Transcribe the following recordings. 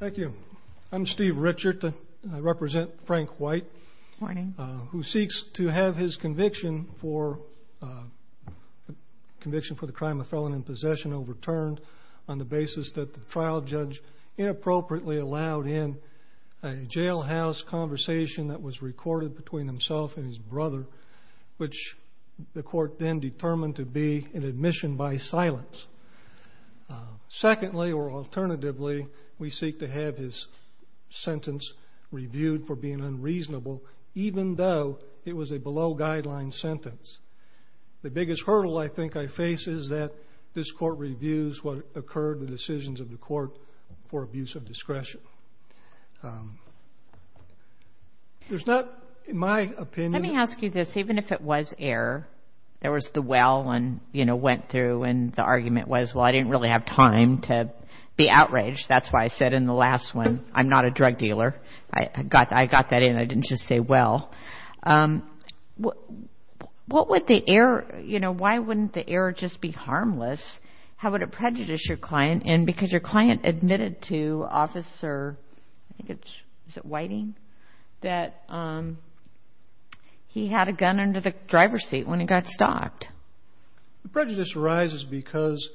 Thank you. I'm Steve Richard. I represent Frank White, who seeks to have his conviction for the crime of felon in possession overturned on the basis that the trial judge inappropriately allowed in a jailhouse conversation that was recorded between himself and his brother, which the court then determined to be an admission by silence. Secondly, or alternatively, we seek to have his sentence reviewed for being unreasonable, even though it was a below-guideline sentence. The biggest hurdle I think I face is that this court reviews what occurred, the decisions of the court, for abuse of discretion. There's not, in my opinion— I think it's—is it Whiting?—that he had a gun under the driver's seat when he got stopped. The prejudice arises because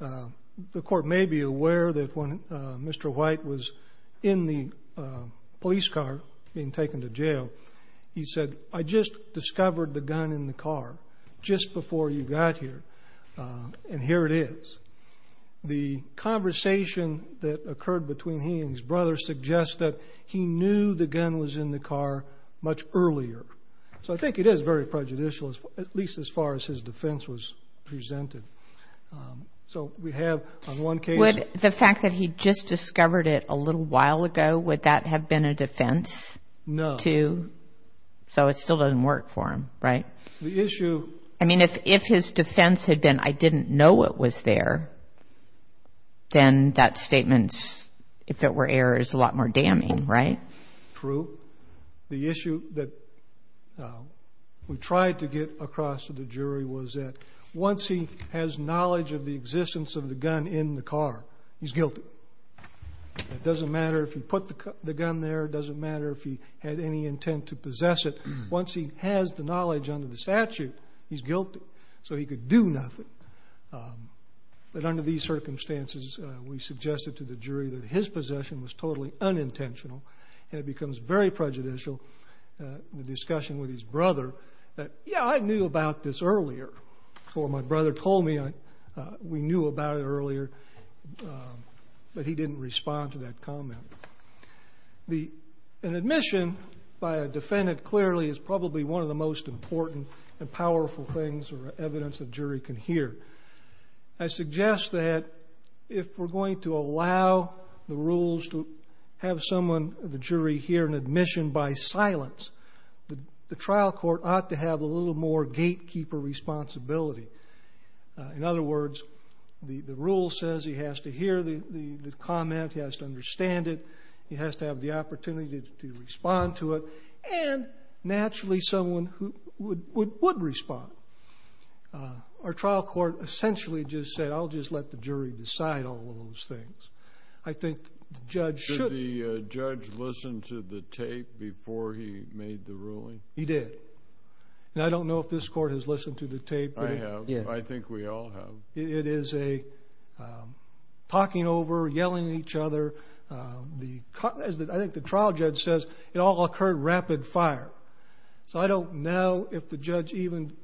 the court may be aware that when Mr. White was in the police car being taken to jail, he said, I just discovered the gun in the car just before you got here, and here it is. The conversation that occurred between he and his brother suggests that he knew the gun was in the car much earlier. So I think it is very prejudicial, at least as far as his defense was presented. So we have, on one case— Would the fact that he just discovered it a little while ago, would that have been a defense? No. To—so it still doesn't work for him, right? The issue— I mean, if his defense had been, I didn't know it was there, then that statement, if it were error, is a lot more damning, right? True. The issue that we tried to get across to the jury was that once he has knowledge of the existence of the gun in the car, he's guilty. It doesn't matter if he put the gun there. It doesn't matter if he had any intent to possess it. Once he has the knowledge under the statute, he's guilty. So he could do nothing. But under these circumstances, we suggested to the jury that his possession was totally unintentional, and it becomes very prejudicial, the discussion with his brother that, yeah, I knew about this earlier, or my brother told me we knew about it earlier, but he didn't respond to that comment. The—an admission by a defendant clearly is probably one of the most important and powerful things or evidence a jury can hear. I suggest that if we're going to allow the rules to have someone, the jury, hear an admission by silence, the trial court ought to have a little more gatekeeper responsibility. In other words, the rule says he has to hear the comment, he has to understand it, he has to have the opportunity to respond to it, and naturally someone who would respond. Our trial court essentially just said, I'll just let the jury decide all of those things. I think the judge should— Did the judge listen to the tape before he made the ruling? He did. And I don't know if this court has listened to the tape. I have. I think we all have. It is a talking over, yelling at each other. I think the trial judge says it all occurred rapid fire. So I don't know if the judge even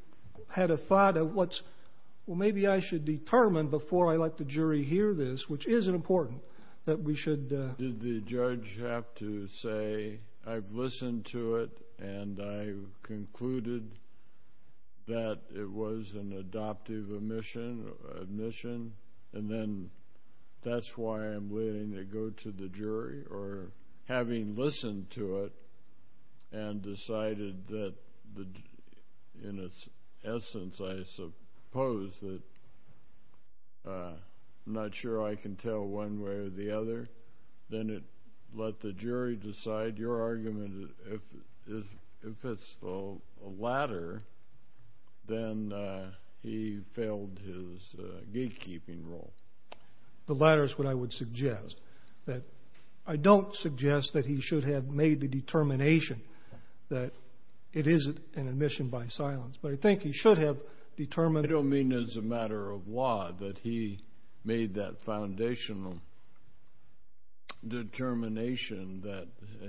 had a thought of what's—well, maybe I should determine before I let the jury hear this, which is important, that we should— Did the judge have to say, I've listened to it and I've concluded that it was an adoptive admission, and then that's why I'm letting it go to the jury? Or having listened to it and decided that in its essence, I suppose, that I'm not sure I can tell one way or the other, then let the jury decide? Your argument is if it's the latter, then he failed his gatekeeping role. The latter is what I would suggest. I don't suggest that he should have made the determination that it isn't an admission by silence, but I think he should have determined— I don't mean as a matter of law that he made that foundational determination that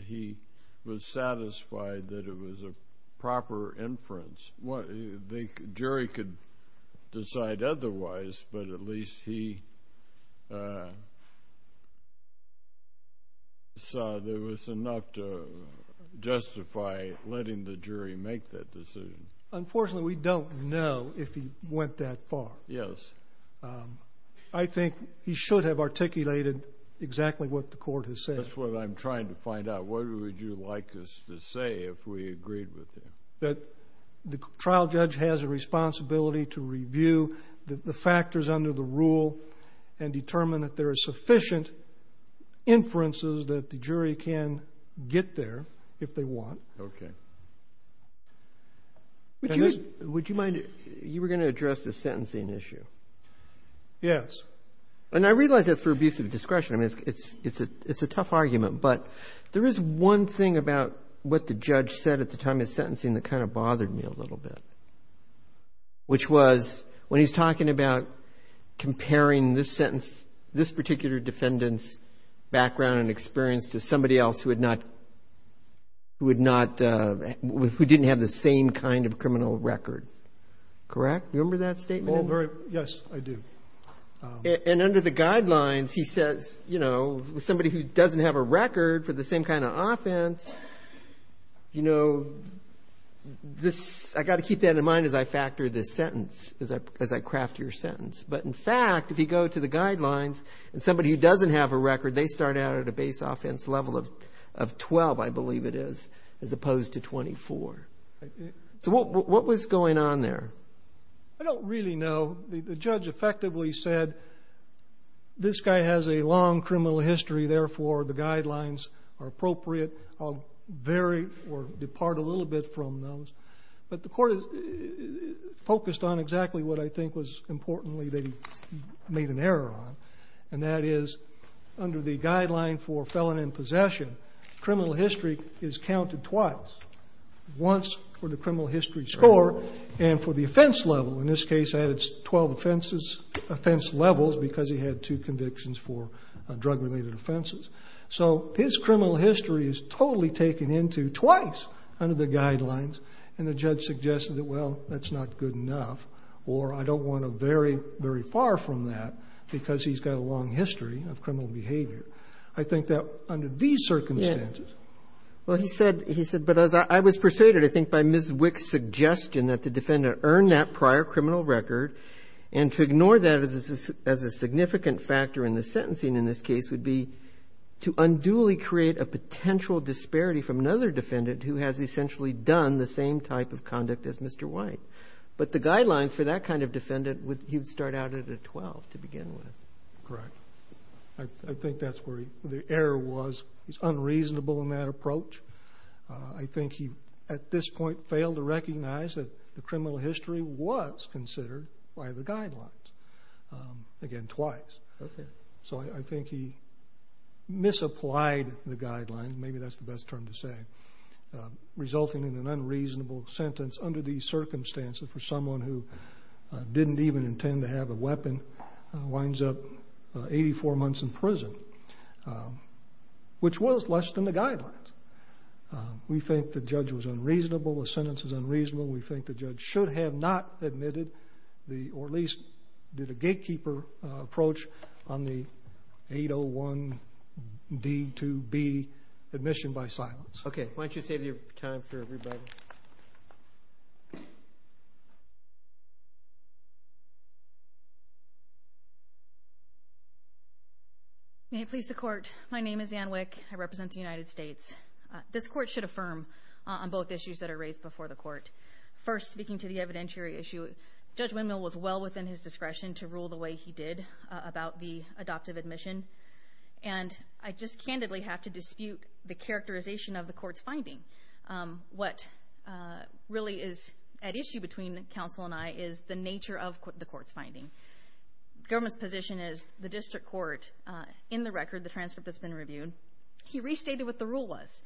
he was satisfied that it was a proper inference. The jury could decide otherwise, but at least he saw there was enough to justify letting the jury make that decision. Unfortunately, we don't know if he went that far. Yes. I think he should have articulated exactly what the court has said. That's what I'm trying to find out. What would you like us to say if we agreed with him? That the trial judge has a responsibility to review the factors under the rule and determine that there are sufficient inferences that the jury can get there if they want. Okay. Would you mind—you were going to address the sentencing issue. Yes. And I realize that's for abuse of discretion. I mean, it's a tough argument, but there is one thing about what the judge said at the time of his sentencing that kind of bothered me a little bit, which was when he's talking about comparing this particular defendant's background and experience to somebody else who didn't have the same kind of criminal record. Correct? Do you remember that statement? Yes, I do. And under the guidelines, he says, you know, somebody who doesn't have a record for the same kind of offense, you know, I've got to keep that in mind as I factor this sentence, as I craft your sentence. But, in fact, if you go to the guidelines, somebody who doesn't have a record, they start out at a base offense level of 12, I believe it is, as opposed to 24. So what was going on there? I don't really know. The judge effectively said, this guy has a long criminal history, therefore the guidelines are appropriate. I'll vary or depart a little bit from those. But the court focused on exactly what I think was importantly that he made an error on, and that is under the guideline for felon in possession, criminal history is counted twice. Once for the criminal history score and for the offense level. In this case, I had 12 offense levels because he had two convictions for drug-related offenses. So his criminal history is totally taken into twice under the guidelines. And the judge suggested that, well, that's not good enough, or I don't want to vary very far from that because he's got a long history of criminal behavior. I think that under these circumstances. Well, he said, but I was persuaded, I think, by Ms. Wick's suggestion that the defendant earned that prior criminal record, and to ignore that as a significant factor in the sentencing in this case would be to unduly create a potential disparity from another defendant who has essentially done the same type of conduct as Mr. White. But the guidelines for that kind of defendant, he would start out at a 12 to begin with. Correct. I think that's where the error was. He's unreasonable in that approach. I think he at this point failed to recognize that the criminal history was considered by the guidelines, again, twice. So I think he misapplied the guidelines, maybe that's the best term to say, resulting in an unreasonable sentence under these circumstances for someone who didn't even intend to have a weapon. Winds up 84 months in prison, which was less than the guidelines. We think the judge was unreasonable. The sentence is unreasonable. We think the judge should have not admitted or at least did a gatekeeper approach on the 801D2B admission by silence. Okay. Why don't you save your time for everybody? May it please the court. My name is Anne Wick. I represent the United States. This court should affirm on both issues that are raised before the court. First, speaking to the evidentiary issue, Judge Windmill was well within his discretion to rule the way he did about the adoptive admission, and I just candidly have to dispute the characterization of the court's finding. What really is at issue between counsel and I is the nature of the court's finding. The government's position is the district court, in the record, the transcript that's been reviewed, he restated what the rule was.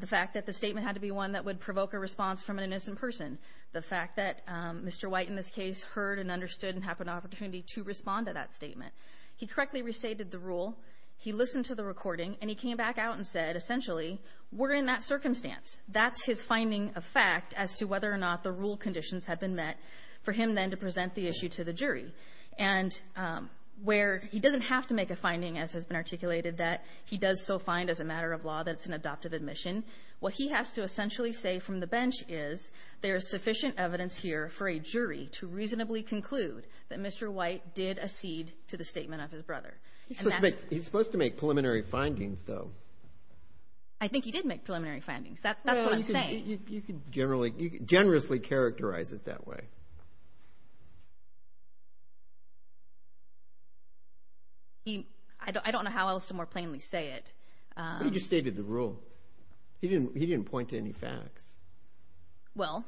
The fact that the statement had to be one that would provoke a response from an innocent person. The fact that Mr. White, in this case, heard and understood and had an opportunity to respond to that statement. He correctly restated the rule. He listened to the recording, and he came back out and said, essentially, we're in that circumstance. That's his finding of fact as to whether or not the rule conditions had been met for him then to present the issue to the jury. And where he doesn't have to make a finding, as has been articulated, that he does so find as a matter of law that it's an adoptive admission, what he has to essentially say from the bench is there is sufficient evidence here for a jury to reasonably conclude that Mr. He's supposed to make preliminary findings, though. I think he did make preliminary findings. That's what I'm saying. You can generously characterize it that way. I don't know how else to more plainly say it. But he just stated the rule. He didn't point to any facts. Well,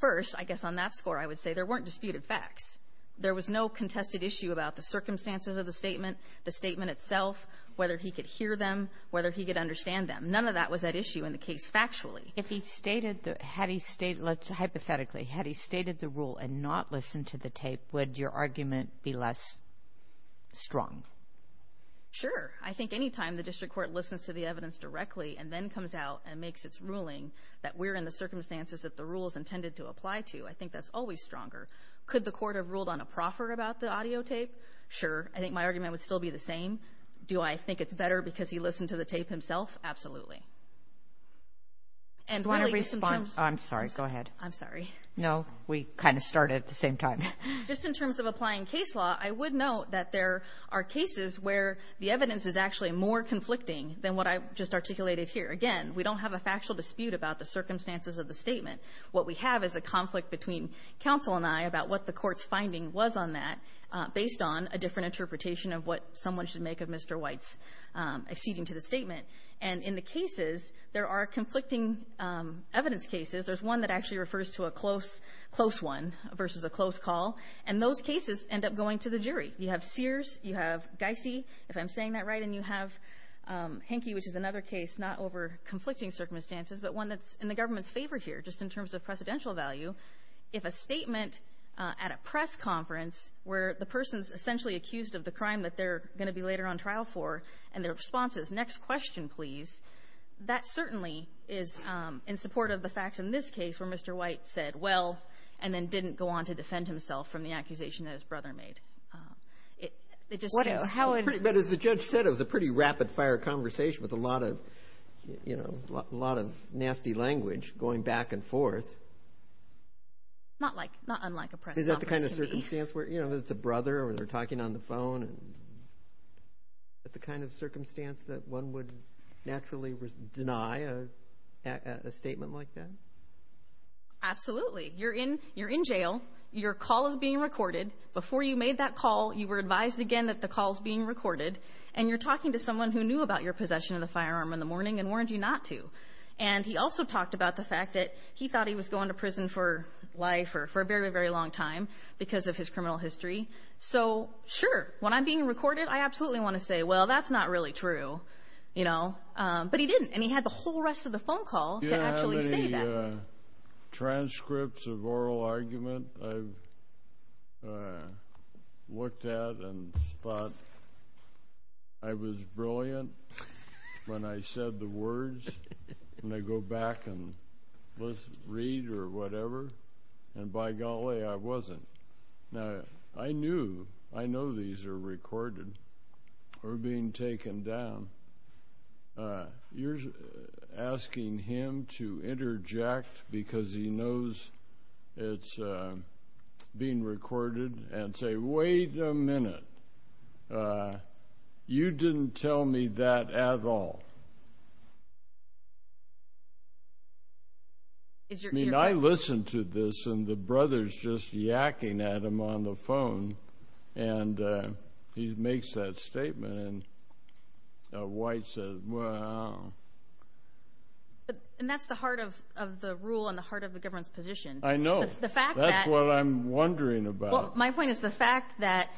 first, I guess on that score, I would say there weren't disputed facts. There was no contested issue about the circumstances of the statement, the statement itself, whether he could hear them, whether he could understand them. None of that was at issue in the case factually. If he stated the rule and not listened to the tape, would your argument be less strong? Sure. I think any time the district court listens to the evidence directly and then comes out and makes its ruling that we're in the circumstances that the rule is intended to apply to, I think that's always stronger. Could the court have ruled on a proffer about the audio tape? Sure. I think my argument would still be the same. Do I think it's better because he listened to the tape himself? And really, just in terms of – Do you want to respond? I'm sorry. Go ahead. I'm sorry. No. We kind of started at the same time. Just in terms of applying case law, I would note that there are cases where the evidence is actually more conflicting than what I just articulated here. Again, we don't have a factual dispute about the circumstances of the statement. What we have is a conflict between counsel and I about what the court's finding was on that, based on a different interpretation of what someone should make of Mr. White's acceding to the statement. And in the cases, there are conflicting evidence cases. There's one that actually refers to a close one versus a close call. And those cases end up going to the jury. You have Sears. You have Geisy, if I'm saying that right. And you have Henke, which is another case not over conflicting circumstances, but one that's in the government's favor here, just in terms of precedential value. If a statement at a press conference where the person's essentially accused of the crime that they're going to be later on trial for and their response is, next question, please, that certainly is in support of the facts in this case where Mr. White said, well, and then didn't go on to defend himself from the accusation that his brother made. But as the judge said, it was a pretty rapid-fire conversation with a lot of nasty language going back and forth. Not unlike a press conference. Is that the kind of circumstance where it's a brother or they're talking on the phone? Is that the kind of circumstance that one would naturally deny a statement like that? Absolutely. You're in jail. Your call is being recorded. Before you made that call, you were advised again that the call is being recorded, and you're talking to someone who knew about your possession of the firearm in the morning and warned you not to. And he also talked about the fact that he thought he was going to prison for life or for a very, very long time because of his criminal history. So, sure, when I'm being recorded, I absolutely want to say, well, that's not really true. But he didn't, and he had the whole rest of the phone call to actually say that. The transcripts of oral argument I've looked at and thought I was brilliant when I said the words, and I go back and read or whatever, and by golly, I wasn't. Now, I know these are recorded or being taken down. You're asking him to interject because he knows it's being recorded and say, wait a minute, you didn't tell me that at all. I mean, I listened to this, and the brother's just yacking at him on the phone, and he makes that statement. And White says, well. And that's the heart of the rule and the heart of the government's position. I know. That's what I'm wondering about. My point is the fact that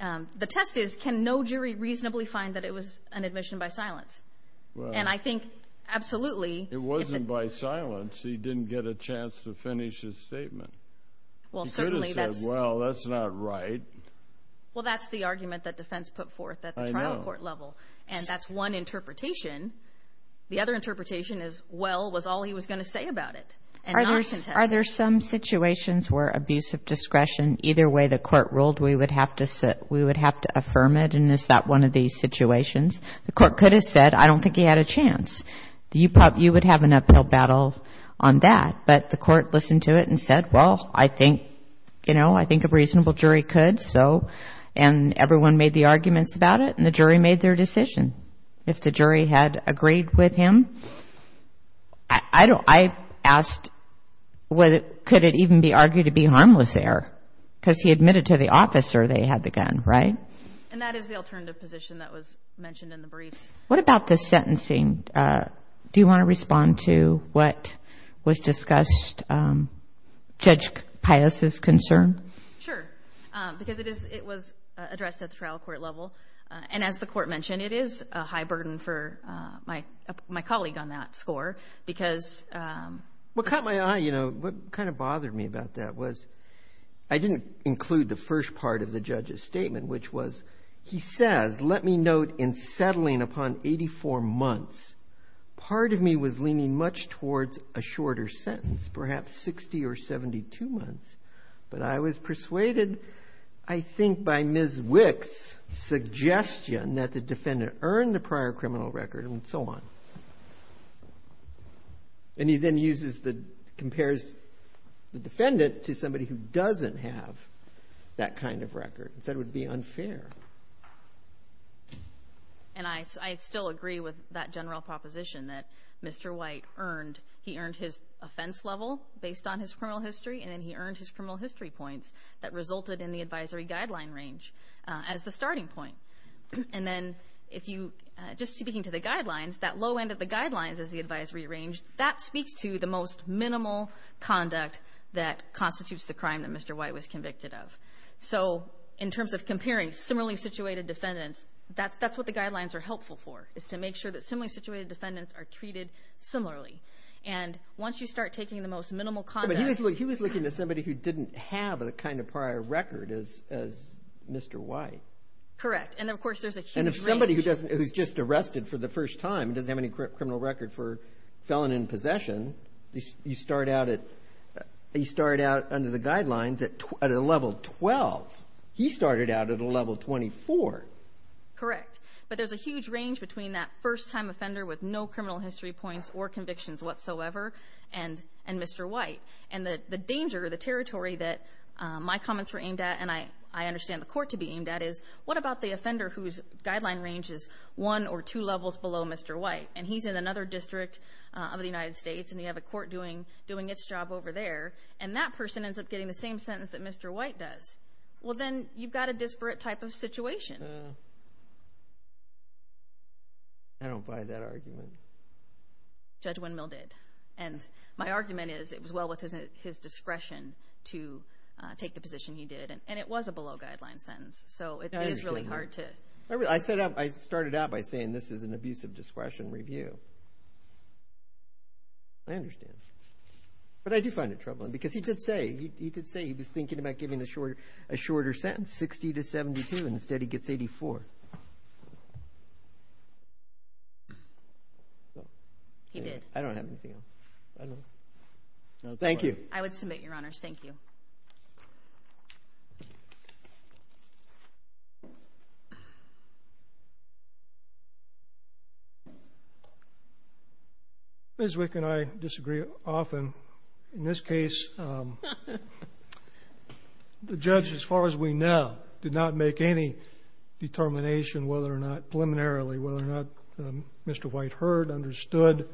the test is can no jury reasonably find that it was an admission by silence? And I think absolutely. It wasn't by silence. He didn't get a chance to finish his statement. He could have said, well, that's not right. Well, that's the argument that defense put forth at the trial court level, and that's one interpretation. The other interpretation is, well, was all he was going to say about it and not contest it. Are there some situations where abuse of discretion, either way the court ruled we would have to affirm it, and is that one of these situations? The court could have said, I don't think he had a chance. You would have an uphill battle on that. But the court listened to it and said, well, I think a reasonable jury could. And everyone made the arguments about it, and the jury made their decision. If the jury had agreed with him, I asked, could it even be argued to be harmless there? Because he admitted to the officer they had the gun, right? And that is the alternative position that was mentioned in the briefs. What about the sentencing? Do you want to respond to what was discussed, Judge Pius' concern? Sure, because it was addressed at the trial court level. And as the court mentioned, it is a high burden for my colleague on that score because ‑‑ Well, it caught my eye, you know. What kind of bothered me about that was I didn't include the first part of the judge's statement, which was he says, let me note in settling upon 84 months, part of me was leaning much towards a shorter sentence, perhaps 60 or 72 months. But I was persuaded, I think, by Ms. Wick's suggestion that the defendant earned the prior criminal record and so on. And he then compares the defendant to somebody who doesn't have that kind of record and said it would be unfair. And I still agree with that general proposition that Mr. White earned, he earned his offense level based on his criminal history and then he earned his criminal history points that resulted in the advisory guideline range as the starting point. And then if you, just speaking to the guidelines, that low end of the guidelines as the advisory range, that speaks to the most minimal conduct that constitutes the crime that Mr. White was convicted of. So in terms of comparing similarly situated defendants, that's what the guidelines are helpful for, is to make sure that similarly situated defendants are treated similarly. And once you start taking the most minimal conduct. But he was looking to somebody who didn't have the kind of prior record as Mr. White. Correct. And, of course, there's a huge range. And if somebody who's just arrested for the first time and doesn't have any criminal record for felon in possession, you start out under the guidelines at a level 12. He started out at a level 24. Correct. But there's a huge range between that first time offender with no criminal history points or convictions whatsoever and Mr. White. And the danger, the territory that my comments were aimed at and I understand the court to be aimed at is, what about the offender whose guideline range is one or two levels below Mr. White? And he's in another district of the United States. And you have a court doing its job over there. And that person ends up getting the same sentence that Mr. White does. Well, then you've got a disparate type of situation. I don't buy that argument. Judge Windmill did. And my argument is it was well within his discretion to take the position he did. And it was a below guideline sentence. So it is really hard to. I started out by saying this is an abuse of discretion review. I understand. But I do find it troubling because he did say he was thinking about giving a shorter sentence, 60 to 72, and instead he gets 84. He did. I don't have anything else. Thank you. I would submit, Your Honors. Thank you. Ms. Wick and I disagree often. In this case, the judge, as far as we know, did not make any determination whether or not preliminarily, whether or not Mr. White heard, understood,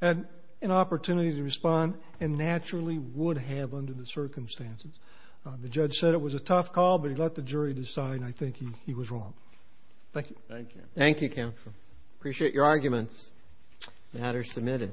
had an opportunity to respond, and naturally would have under the circumstances. The judge said it was a tough call, but he let the jury decide, and I think he was wrong. Thank you. Thank you, counsel. Appreciate your arguments. The matter is submitted.